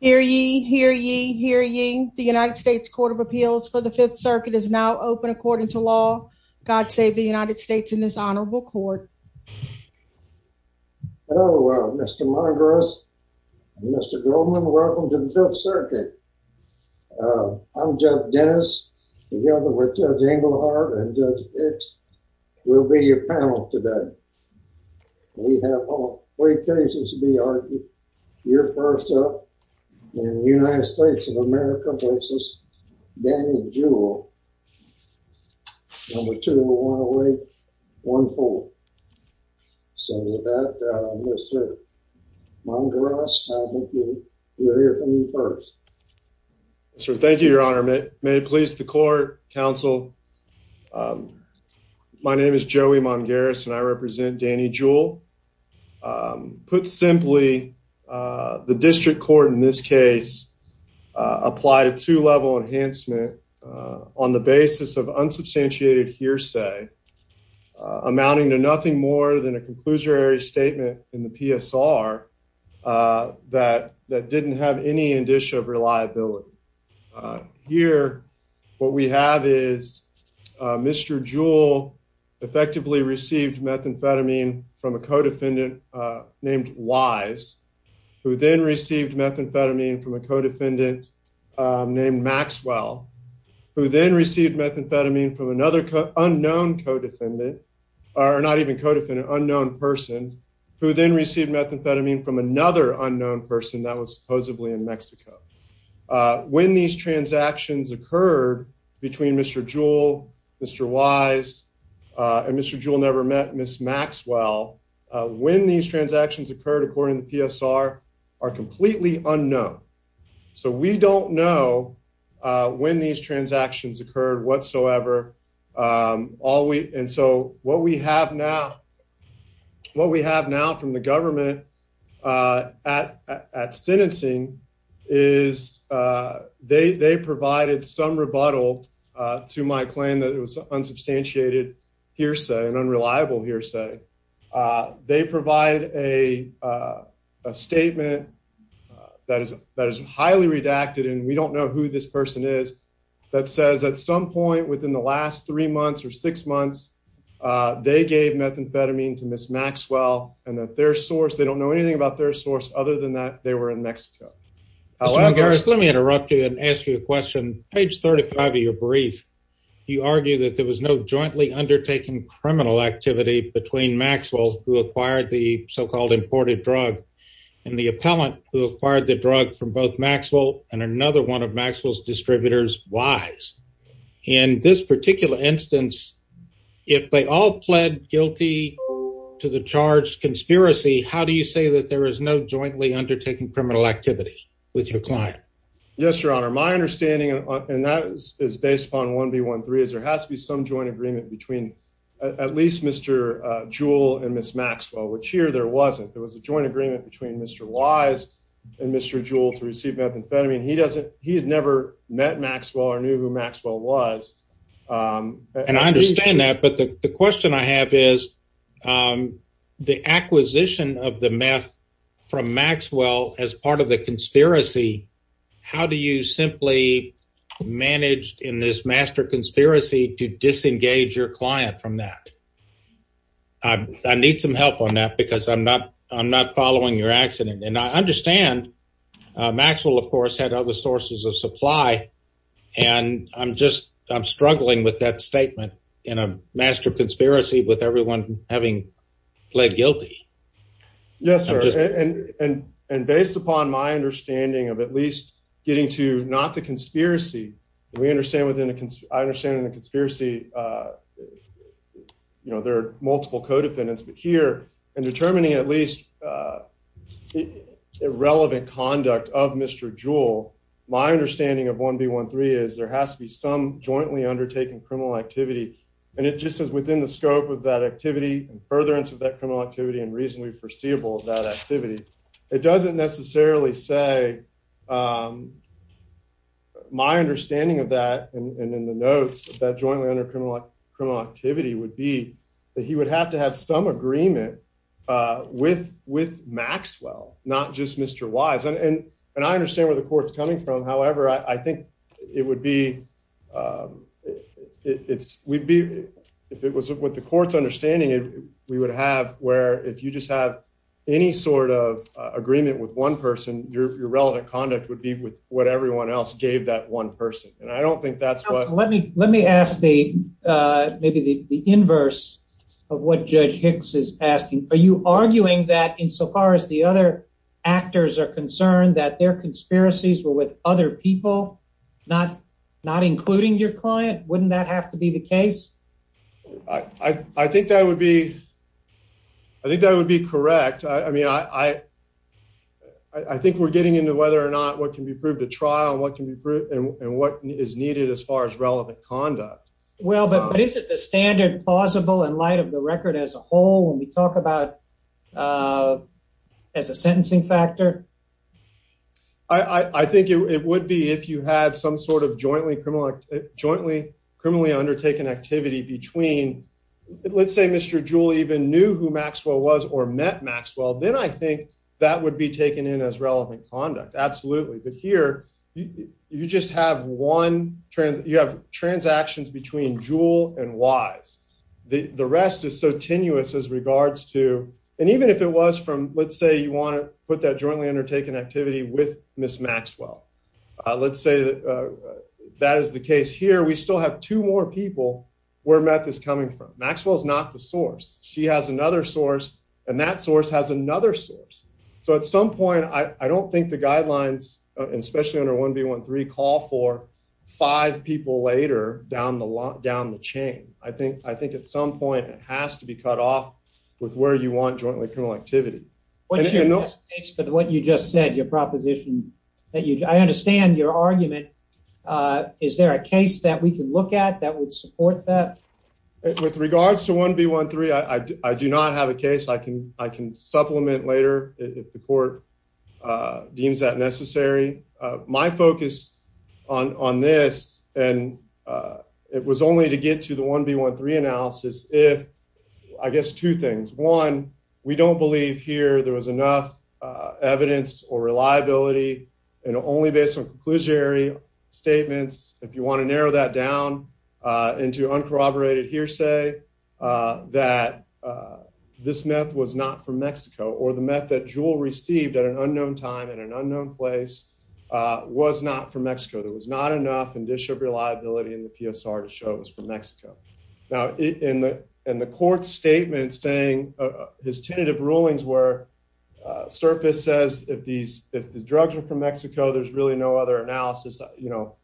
Hear ye, hear ye, hear ye. The United States Court of Appeals for the Fifth Circuit is now open. According to law, God save the United States in this honorable court. Hello, Mr Margaris. Mr Goldman, welcome to the Fifth Circuit. Uh, I'm Jeff Dennis, together with Judge Englehart and Judge Pitts will be your panel today. We have all three cases to be argued. You're first up in the United States of America versus Danny Jewell. Number two, we want to wait one full. So with that, Mr Margaris, I think we'll hear from you first. So thank you, Your Honor. May it please the court counsel. Um, my name is Joey among Garrison. I represent Danny Jewell. Um, put simply, uh, the district court in this case applied a two level enhancement on the basis of unsubstantiated hearsay, amounting to nothing more than a conclusory statement in the PSR, uh, that that didn't have any indicia of reliability. Uh, here what we have is Mr Jewell effectively received methamphetamine from a codefendant named Wise, who then received methamphetamine from a codefendant named Maxwell, who then received methamphetamine from another unknown codefendant are not even codependent unknown person who then received methamphetamine from another unknown person that was supposedly in heard between Mr Jewell, Mr Wise on Mr Jewell never met Miss Maxwell when these transactions occurred, according to PSR, are completely unknown. So we don't know when these transactions occurred whatsoever. Um, all week. And so what we have now what we have now from the government, uh, at at financing is, uh, they they provided some rebuttal to my claim that it was unsubstantiated hearsay and unreliable hearsay. Uh, they provide a, uh, statement that is that is highly redacted, and we don't know who this person is. That says at some point within the last three months or six months, uh, they gave methamphetamine to Miss Maxwell and that their source they don't know anything about their source. Other than that, they were in Mexico. However, let me interrupt you and ask you a question. Page 35 of your brief, you argue that there was no jointly undertaken criminal activity between Maxwell, who acquired the so called imported drug and the appellant who acquired the drug from both Maxwell and another one of Maxwell's distributors. Wise in this particular instance, if they all pled guilty to the charge conspiracy, how do you say that there is no jointly undertaking criminal activity with your client? Yes, Your Honor. My understanding on that is based upon one B. 13 is there has to be some joint agreement between at least Mr Jewel and Miss Maxwell, which here there wasn't. There was a joint agreement between Mr Wise and Mr Jewel to receive methamphetamine. He doesn't. He has never met Maxwell or knew who Maxwell was. Um, and I understand that. But the question I have is, um, the acquisition of the math from Maxwell as part of the conspiracy. How do you simply managed in this master conspiracy to disengage your client from that? I need some help on that because I'm not. I'm not following your accident, and I understand. Maxwell, of course, had other sources of supply, and I'm struggling with that statement in a master conspiracy with everyone having pled guilty. Yes, sir. And based upon my understanding of at least getting to not the conspiracy, we understand within a I understand the conspiracy. Uh, you know, there are multiple co defendants, but here and determining at least, uh, irrelevant conduct of Mr Jewel. My understanding of one B. 13 is there has to be some jointly undertaking criminal activity, and it just is within the scope of that activity and furtherance of that criminal activity and reasonably foreseeable of that activity. It doesn't necessarily say, um, my understanding of that and in the notes that jointly under criminal criminal activity would be that he would have to have some agreement with with Maxwell, not just Mr Wise. And I understand where the court's coming from. However, I think it would be, um, it's we'd be if it was with the court's understanding, we would have where if you just have any sort of agreement with one person, your relevant conduct would be with what everyone else gave that one person. And I don't think that's what let me Let me ask the maybe the inverse of what Judge Hicks is asking. Are you arguing that insofar as the other actors are concerned that their conspiracies were with other people, not not including your client? Wouldn't that have to be the case? I think that would be I think that would be correct. I mean, I I think we're getting into whether or not what can be proved a trial. What can be proved and what is needed as far as relevant conduct? Well, but is it the standard plausible in light of the record as a whole when we talk about, uh, as a sentencing factor, I think it would be if you had some sort of jointly criminal, jointly criminally undertaken activity between Let's say Mr Julie even knew who Maxwell was or met Maxwell. Then I think that would be taken in as relevant conduct. Absolutely. But here you just have one. You have transactions between jewel and wise. The rest is so tenuous as regards to and even if it was from, let's say you want to put that jointly undertaken activity with Miss Maxwell. Let's say that is the case here. We still have two more people where meth is coming from. Maxwell is not the source. She has another source, and that source has another source. So at some point, I don't think the guidelines, especially under one B 13 call for five people later down the lot down the chain. I think I think at some point it has to be cut off with where you want jointly criminal activity. But what you just said your proposition that you I understand your argument. Uh, is there a case that we could look at that would support that with regards to one B 13? I do not have a case I can. I is that necessary? My focus on on this, and, uh, it was only to get to the one B 13 analysis. If I guess two things. One, we don't believe here there was enough evidence or reliability and only based on conclusionary statements. If you want to narrow that down into uncorroborated hearsay, uh, that this meth was not from Mexico or the meth that jewel received at an unknown time in an unknown place, uh, was not from Mexico. There was not enough and issue of reliability in the PSR to show it was from Mexico. Now, in the in the court statement, saying his tentative rulings were, uh, surface says that these drugs are from Mexico. There's really no other analysis. You know,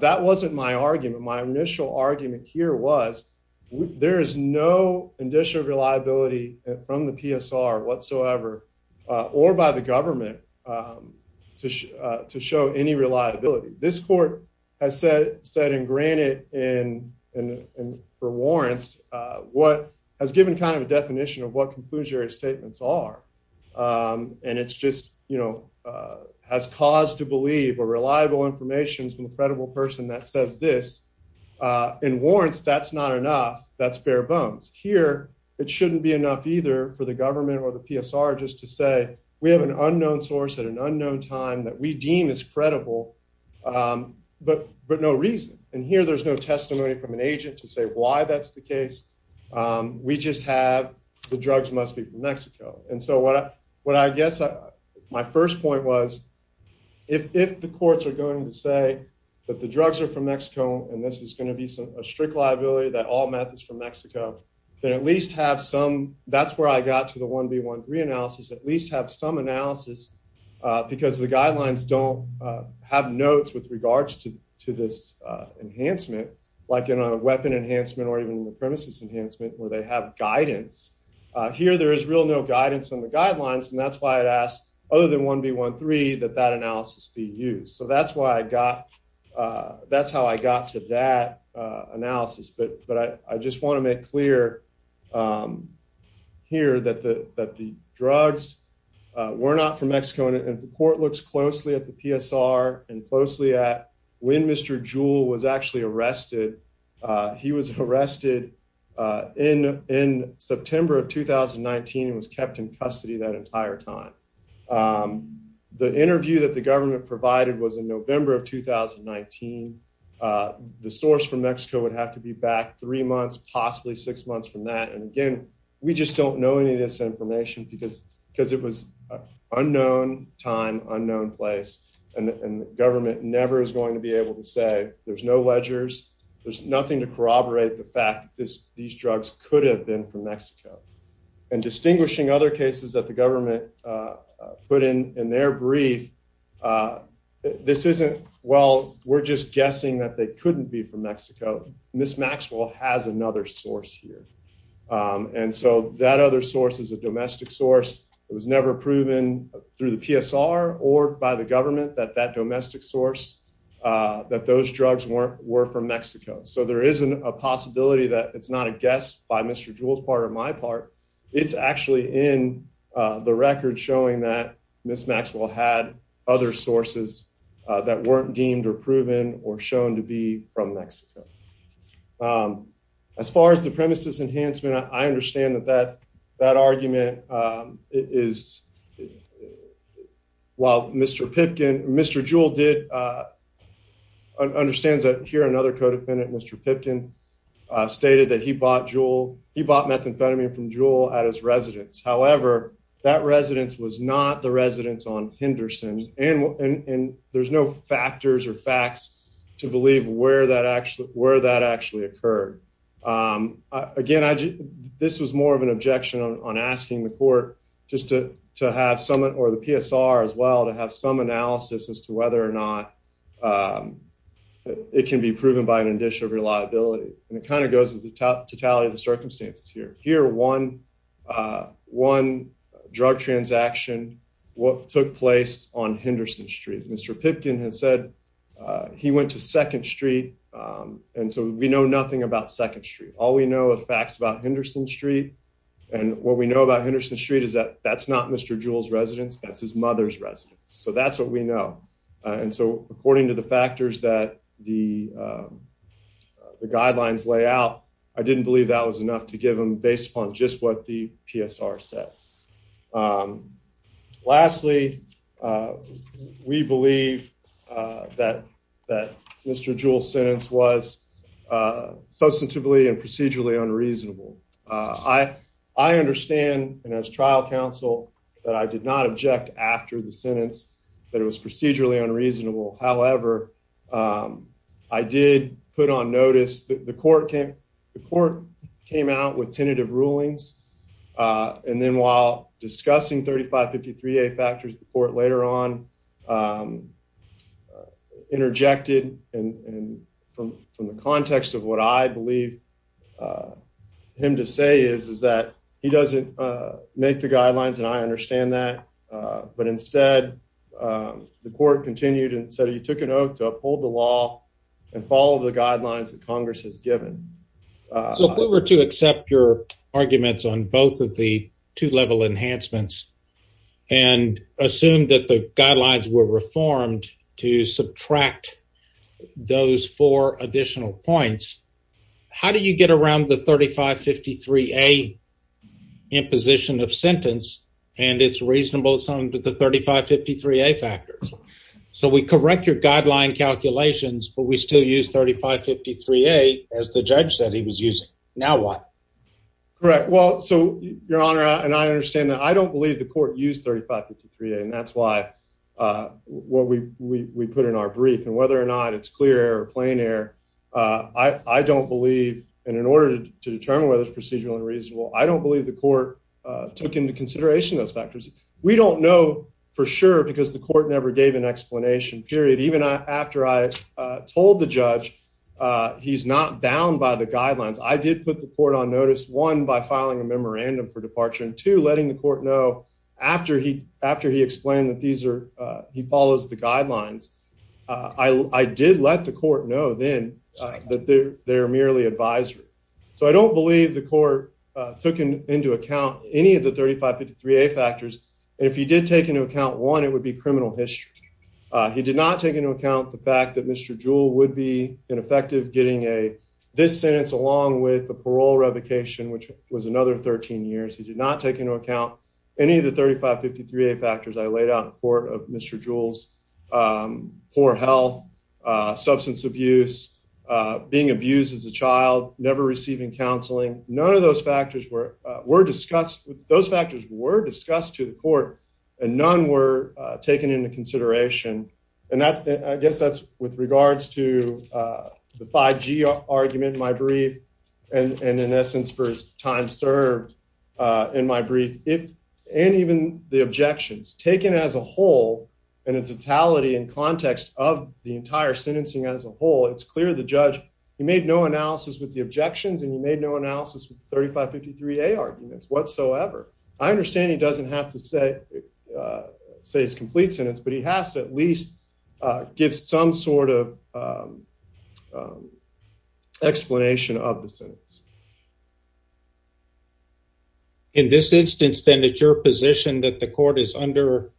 that wasn't my argument. My initial argument here was there is no condition of reliability from the PSR whatsoever or by the government, um, to to show any reliability. This court has said, said and granted in and for warrants what has given kind of a definition of what conclusionary statements are. Um, and it's just, you know, uh, has caused to believe a reliable information is an incredible person that says this. Uh, in warrants, that's not enough. That's bare bones here. It shouldn't be enough either for the government or the PSR just to say we have an unknown source at an unknown time that we deem is credible. Um, but but no reason. And here there's no testimony from an agent to say why that's the case. Um, we just have the drugs must be from Mexico. And so what? What? I guess my first point was if if the courts are going to say that the drugs are from Mexico and this is going to be a strict liability that all methods from Mexico can at least have some. That's where I got to the 1 b 1 3 analysis at least have some analysis because the guidelines don't have notes with regards to this enhancement, like in a weapon enhancement or even the premises enhancement where they have guidance here. There is real no guidance on the guidelines, and that's why it asked other than 1 b 1 3 that that analysis be used. So that's why I that's how I got to that analysis. But I just want to make clear, um, here that the that the drugs were not from Mexico. And if the court looks closely at the PSR and closely at when Mr Jewel was actually arrested, he was arrested in in September of 2000 and 19 was kept in custody that entire time. Um, the interview that the government provided was in November of 2000 and 19. Uh, the source from Mexico would have to be back three months, possibly six months from that. And again, we just don't know any of this information because because it was unknown time, unknown place, and government never is going to be able to say there's no ledgers. There's nothing to corroborate the fact that these drugs could have been from Mexico and distinguishing other cases that the government, uh, put in in their brief. Uh, this isn't well, we're just guessing that they couldn't be from Mexico. Miss Maxwell has another source here on DSO. That other source is a domestic source. It was never proven through the PSR or by the government that that domestic source, uh, that those drugs weren't were from Mexico. So there isn't a possibility that it's not a guest by Mr Jewel's part of my part. It's actually in the record showing that Miss Maxwell had other sources that weren't deemed or proven or shown to be from Mexico. Um, as far as the premises enhancement, I understand that that that argument, um, is while Mr Pipkin, Mr Jewel did, uh, understands that here. Another codependent, Mr Pipkin stated that he bought jewel. He bought methamphetamine from jewel at his residence. However, that residence was not the residence on Henderson, and there's no factors or facts to believe where that actually where that actually occurred. Um, again, this was more of an objection on asking the court just to have someone or the PSR as well to have some analysis as to whether or not, um, it can be proven by an addition of reliability. And it kind of goes to the totality of the circumstances here. Here 11 drug transaction. What took place on Henderson Street? Mr Pipkin has said he went to Second Street. Um, and so we know nothing about Second Street. All we know of facts about Henderson Street. And what we know about Henderson Street is that that's not Mr Jewel's residence. That's his mother's residence. So that's what we know. And so, according to the factors that the, um, the guidelines lay out, I didn't believe that was enough to give him based upon just what the PSR said. Um, lastly, we believe that that Mr Jewel sentence was, uh, substantively and procedurally unreasonable. I understand, and as trial counsel that I did not object after the sentence that it was procedurally unreasonable. However, um, I did put on notice that the court came. The court came out with tentative rulings. Uh, and then, while discussing 35 53 a factors, the court later on, um, interjected. And from the context of what I believe, uh, him to say is, is that he doesn't make the guidelines. And I understand that. But instead, um, the court continued and said he took a note to uphold the law and follow the guidelines that given. So if we were to accept your arguments on both of the two level enhancements and assumed that the guidelines were reformed to subtract those four additional points, how do you get around the 35 53 a in position of sentence? And it's reasonable something to the 35 53 a factors. So we correct your guideline calculations, but we still use 35 53 a as the judge said he was using. Now what? Correct. Well, so, Your Honor, and I understand that I don't believe the court used 35 53 a. And that's why, uh, what we we put in our brief and whether or not it's clear playing air. Uh, I don't believe in order to determine whether it's procedurally reasonable. I don't believe the court took into consideration those factors. We don't know for sure, because the court never gave an explanation period. Even after I told the judge, uh, he's not bound by the guidelines. I did put the court on notice one by filing a memorandum for departure and to letting the court know after he after he explained that these air he follows the guidelines. I did let the court know then that they're merely advisory. So I don't believe the court took into account any of the 35 53 a factors. If he did take into account one, it would be criminal history. He did not take into account the fact that Mr Jewel would be ineffective getting a this sentence along with the parole revocation, which was another 13 years. He did not take into account any of the 35 53 a factors I laid out for Mr Jewel's, um, poor health, substance abuse, being abused as a child, never receiving counseling. None of those factors were were discussed. Those factors were discussed to the court, and none were taken into consideration. And that's I guess that's with regards to, uh, the five G argument, my brief and and, in essence, for his time served, uh, in my brief it and even the objections taken as a whole and its totality in context of the entire sentencing as a whole. It's clear the judge. You made no analysis with the objections, and you made no 35 53 a arguments whatsoever. I understand he doesn't have to say, uh, says complete sentence, but he has to at least give some sort of, um, um, explanation of the sentence. In this instance, then that your position that the court is under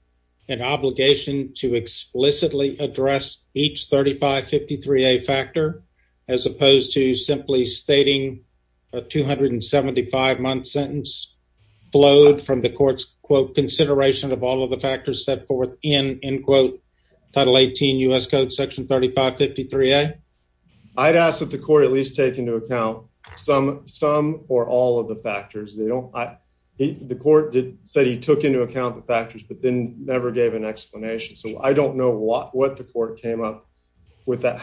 an obligation to explicitly address each 35 53 a factor as opposed to simply stating a 275 month sentence flowed from the court's quote consideration of all of the factors set forth in in quote Title 18 U. S. Code Section 35 53 a I'd ask that the court at least take into account some some or all of the factors they don't. The court said he took into account the factors but then never gave an explanation. So I don't know what the court came up with your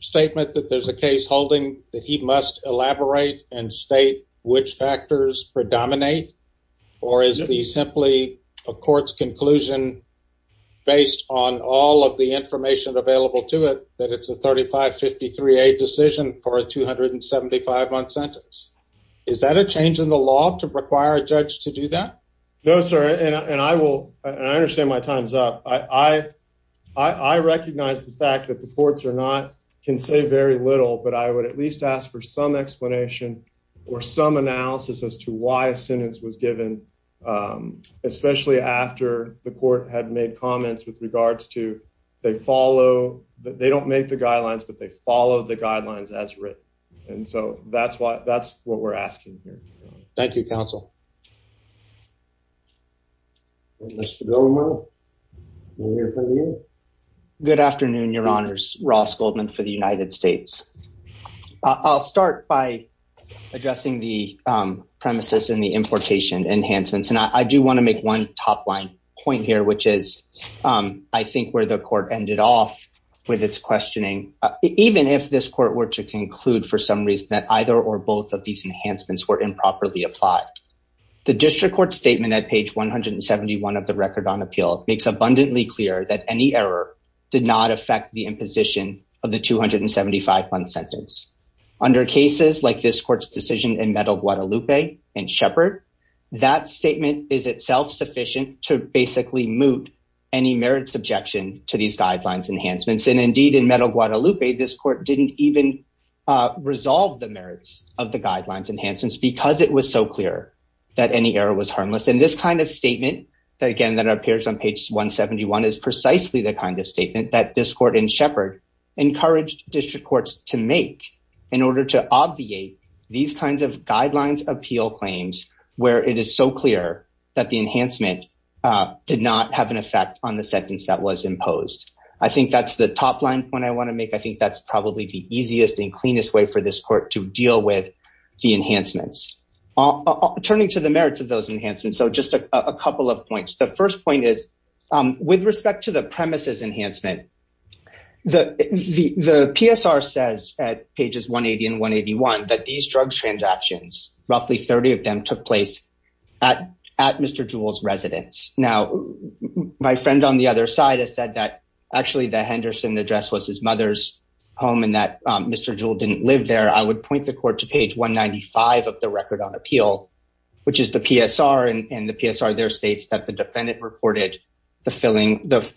statement that there's a case holding that he must elaborate and state which factors predominate or is the simply a court's conclusion based on all of the information available to it that it's a 35 53 a decision for a 275 month sentence. Is that a change in the law to require a judge to do that? No, sir. And I will. I understand my time's up. I I recognize the fact that the courts are not can say very little, but I would at least ask for some explanation or some analysis as to why a sentence was given, especially after the court had made comments with regards to they follow that they don't make the guidelines, but they follow the guidelines as written. And so that's why that's what we're asking here. Thank you, Counsel. Mr. Goldman, we're here for you. Good afternoon, Your Honors. Ross Goldman for the United States. I'll start by addressing the premises in the importation enhancements, and I do want to make one top line point here, which is, um, I think where the court ended off with its questioning, even if this court were to conclude for some reason that either or both of these guidelines enhancements did not meet the merits of the guidelines enhancements. The district court statement at page 171 of the record on appeal makes abundantly clear that any error did not affect the imposition of the 275 month sentence under cases like this court's decision in Metal Guadalupe and Shepard. That statement is itself sufficient to basically moot any merits objection to these guidelines enhancements. And indeed, in Metal Guadalupe, this court didn't even resolve the merits of the guidelines enhancements because it was so clear that any error was harmless. And this kind of statement that again that appears on page 171 is precisely the kind of statement that this court in Shepard encouraged district courts to make in order to obviate these kinds of guidelines appeal claims where it is so clear that the enhancement did not have an effect on the sentence that was I think that's probably the easiest and cleanest way for this court to deal with the enhancements. Turning to the merits of those enhancements, so just a couple of points. The first point is with respect to the premises enhancement, the PSR says at pages 180 and 181 that these drugs transactions, roughly 30 of them took place at Mr. Jewell's residence. Now, my friend on the other side has said that actually the Henderson address was his mother's home and that Mr. Jewell didn't live there. I would point the court to page 195 of the record on appeal, which is the PSR and the PSR there states that the defendant reported the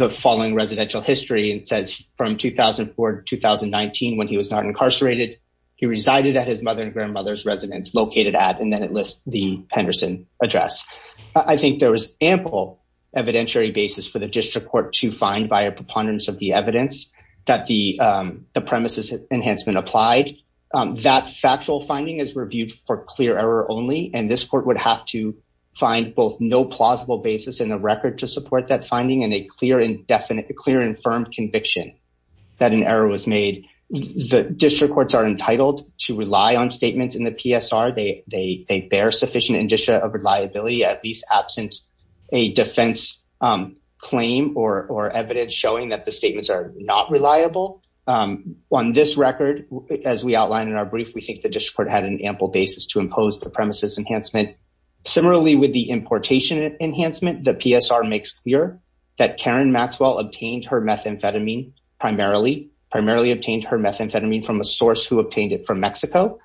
following residential history and says from 2004 to 2019 when he was not incarcerated, he resided at his mother and grandmother's residence located at and then it lists the Henderson address. I think there was ample evidentiary basis for the district court to find by a preponderance of the evidence that the premises enhancement applied. That factual finding is reviewed for clear error only and this court would have to find both no plausible basis in the record to support that finding and a clear and firm conviction that an error was made. The district courts are entitled to rely on statements in the PSR. They bear sufficient indicia of reliability, at least absent a defense claim or evidence showing that the statements are not reliable. On this record, as we outlined in our brief, we think the district court had an ample basis to impose the premises enhancement. Similarly, with the importation enhancement, the PSR makes clear that Karen Maxwell obtained her methamphetamine primarily, primarily obtained her methamphetamine from a source who obtained it from Mexico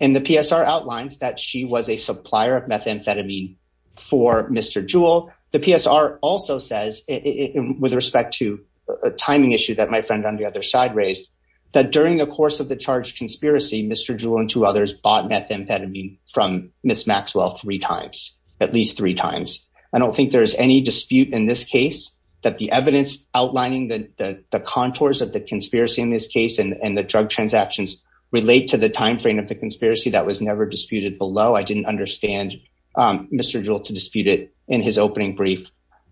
and the PSR outlines that she was a supplier of methamphetamine for Mr. Jewel. The PSR also says, with respect to a timing issue that my friend on the other side raised, that during the course of the charge conspiracy, Mr. Jewel and two others bought methamphetamine from Ms. Maxwell three times, at least three times. I don't think there's any dispute in this case that the evidence outlining the contours of the conspiracy in this case and the drug transactions relate to the timeframe of the conspiracy that was never disputed below. I didn't understand Mr. Jewel to dispute it in his opening brief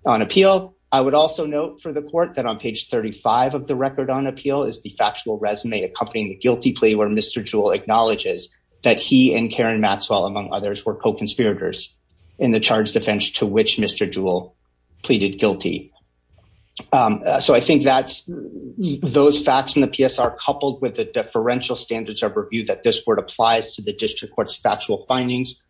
on appeal. I would also note for the court that on page 35 of the record on appeal is the factual resume accompanying the guilty plea where Mr. Jewel acknowledges that he and Karen Maxwell, among others, were co-conspirators in the charge defense to which Mr. Jewel pleaded guilty. So I think that's those facts in the PSR coupled with the deferential standards of review that this court applies to the district court's factual findings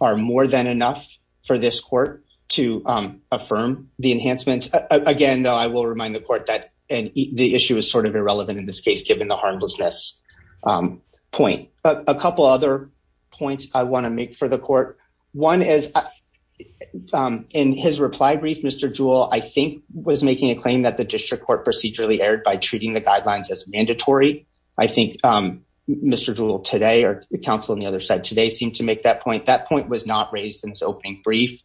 are more than enough for this court to affirm the enhancements. Again, though, I will remind the court that the issue is sort of irrelevant in this case, given the harmlessness point. A couple other points I want to make for the court. One is in his reply brief, Mr. Jewel, I think was making a claim that the district court procedurally erred by I think Mr. Jewel today or counsel on the other side today seemed to make that point. That point was not raised in his opening brief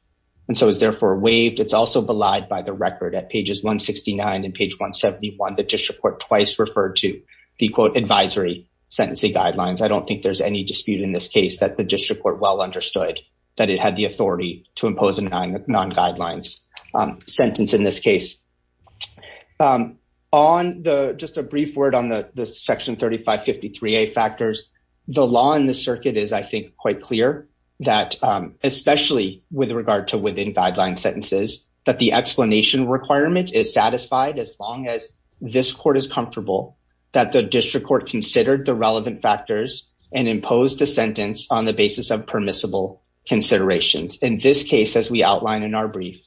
and so is therefore waived. It's also belied by the record at pages 169 and page 171, the district court twice referred to the quote advisory sentencing guidelines. I don't think there's any dispute in this case that the district court well understood that it had the authority to impose a non-guidelines sentence in this case. On the just a brief word on the section 3553A factors, the law in the circuit is I think quite clear that especially with regard to within guideline sentences, that the explanation requirement is satisfied as long as this court is comfortable that the district court considered the relevant factors and imposed a sentence on the basis of permissible considerations. In this case, as we outline in our brief,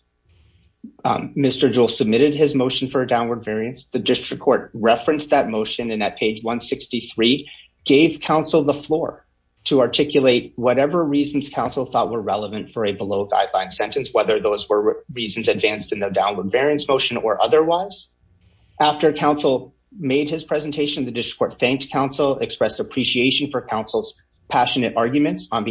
Mr. Jewel submitted his motion for a downward variance. The district court referenced that motion and at page 163 gave council the floor to articulate whatever reasons council thought were relevant for a below guideline sentence, whether those were reasons advanced in the downward variance motion or otherwise. After council made his presentation, the district court thanked council, expressed appreciation for council's passionate arguments on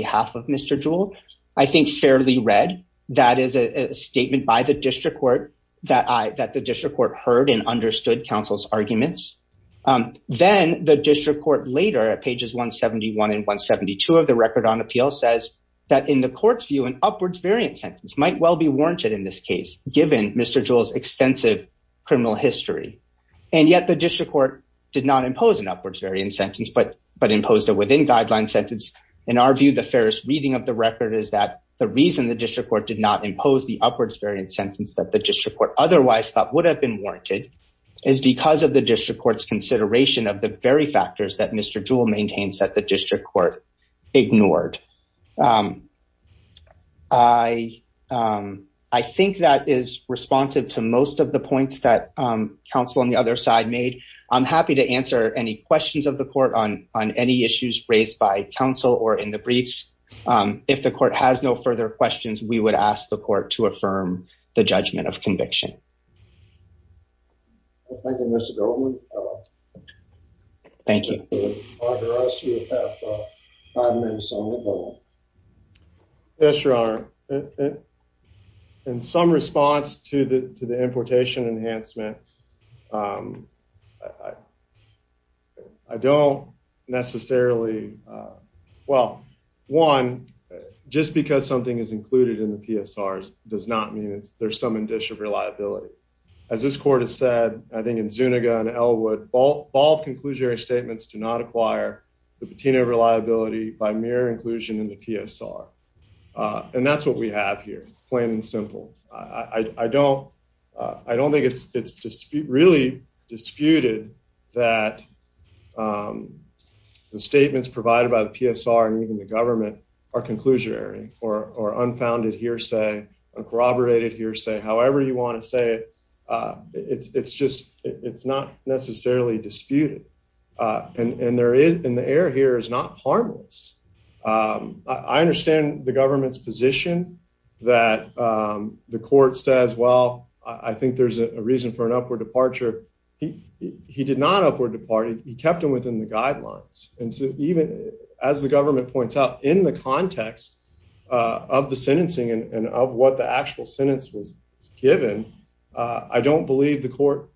fairly read. That is a statement by the district court that the district court heard and understood council's arguments. Then the district court later at pages 171 and 172 of the record on appeal says that in the court's view, an upwards variance sentence might well be warranted in this case, given Mr. Jewel's extensive criminal history. And yet the district court did not impose an upwards variance sentence, but imposed a within guideline sentence. In our view, the reason the district court did not impose the upwards variance sentence that the district court otherwise thought would have been warranted is because of the district court's consideration of the very factors that Mr. Jewel maintains that the district court ignored. I think that is responsive to most of the points that council on the other side made. I'm happy to answer any questions of the court on any issues raised by council or in the briefs. If the court has no further questions, we would ask the court to affirm the judgment of conviction. Thank you, Mr. Goldman. Thank you. Yes, your honor. In some response to the importation enhancement, um, I don't necessarily. Well, one, just because something is included in the PSR does not mean there's some addition of reliability. As this court has said, I think in Zuniga and Elwood, bald conclusionary statements do not acquire the patina of reliability by mere inclusion in the PSR. And that's what we have here. Plain and simple. I don't. I don't think it's it's just really disputed that, um, the statements provided by the PSR and even the government are conclusionary or or unfounded hearsay, corroborated hearsay, however you want to say it. It's just it's not necessarily disputed. Uh, and there is in the air here is not harmless. Um, I understand the government's position that the court says, Well, I think there's a reason for an upward departure. He did not upward departed. He kept him within the guidelines. And so even as the government points out in the context of the sentencing and of what the actual sentence was given, I don't believe the court.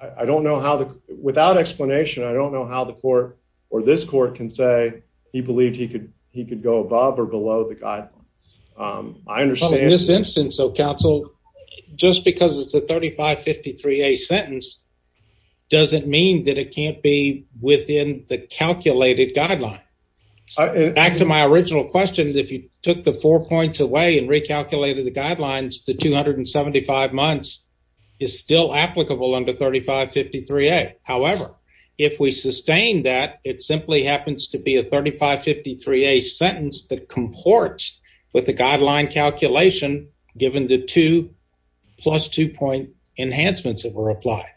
I don't know how, without explanation, I don't know how the court or this court can say he believed he could he could go above or below the guidelines. Um, I understand this instance of council just because it's a 35 53 a sentence doesn't mean that it can't be within the calculated guideline. Back to my original questions. If you took the four points away and recalculated the guidelines, the 275 months is still applicable under 35 53 a. However, if we sustain that, it simply happens to be a 35 53 a sentence that comport with the guideline calculation given the two plus two point enhancements that were applied.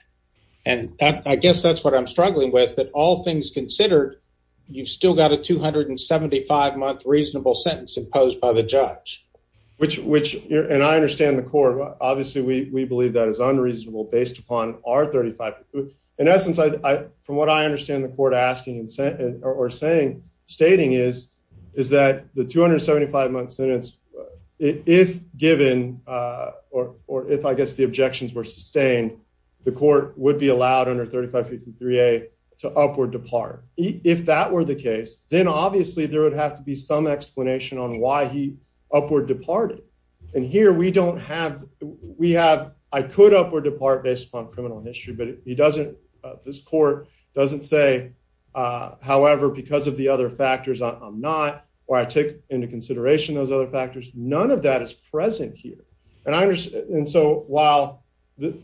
And I guess that's what I'm struggling with, that all things considered, you've still got a 275 month reasonable sentence imposed by the judge, which which and I understand the court. Obviously, we believe that is unreasonable based upon our 35. In essence, from what I understand the court asking or saying, stating is, is that the 275 month sentence, if given, or if I guess the objections were sustained, the court would be allowed under 35 53 a to upward depart. If that were the case, then obviously there would have to be some explanation on why he upward departed. And here we don't have. We have. I could upward depart based upon criminal history, but he doesn't. This court doesn't say, however, because of the other factors, I'm not or I take into consideration those other factors. None of that is present here. And I understand. And so while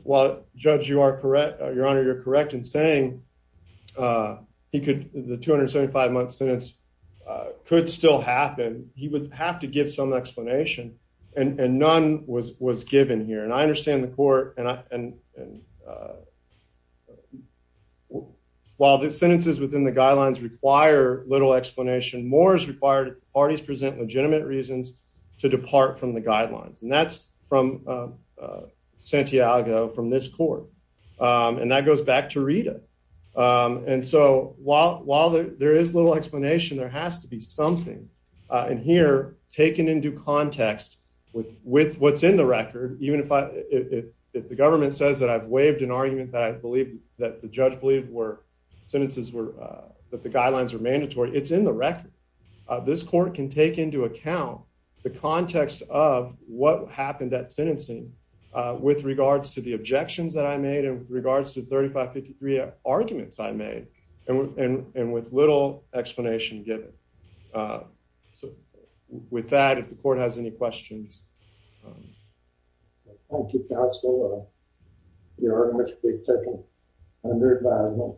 while judge, you are correct, Your Honor, you're still happen. He would have to give some explanation, and none was was given here. And I understand the court. And, uh, while the sentences within the guidelines require little explanation, more is required. Parties present legitimate reasons to depart from the guidelines. And that's from, uh, Santiago from this court. Um, and that goes back to Rita. Um, and so while while there is little explanation, there has to be something in here taken into context with with what's in the record. Even if I if the government says that I've waived an argument that I believe that the judge believed were sentences were that the guidelines were mandatory, it's in the record. This court can take into account the context of what happened at sentencing with regards to the objections that I made in regards to 35 53 arguments I made. And with little explanation given. Uh, so with that, if the court has any questions, thank you, Counselor. You're very much being taken under the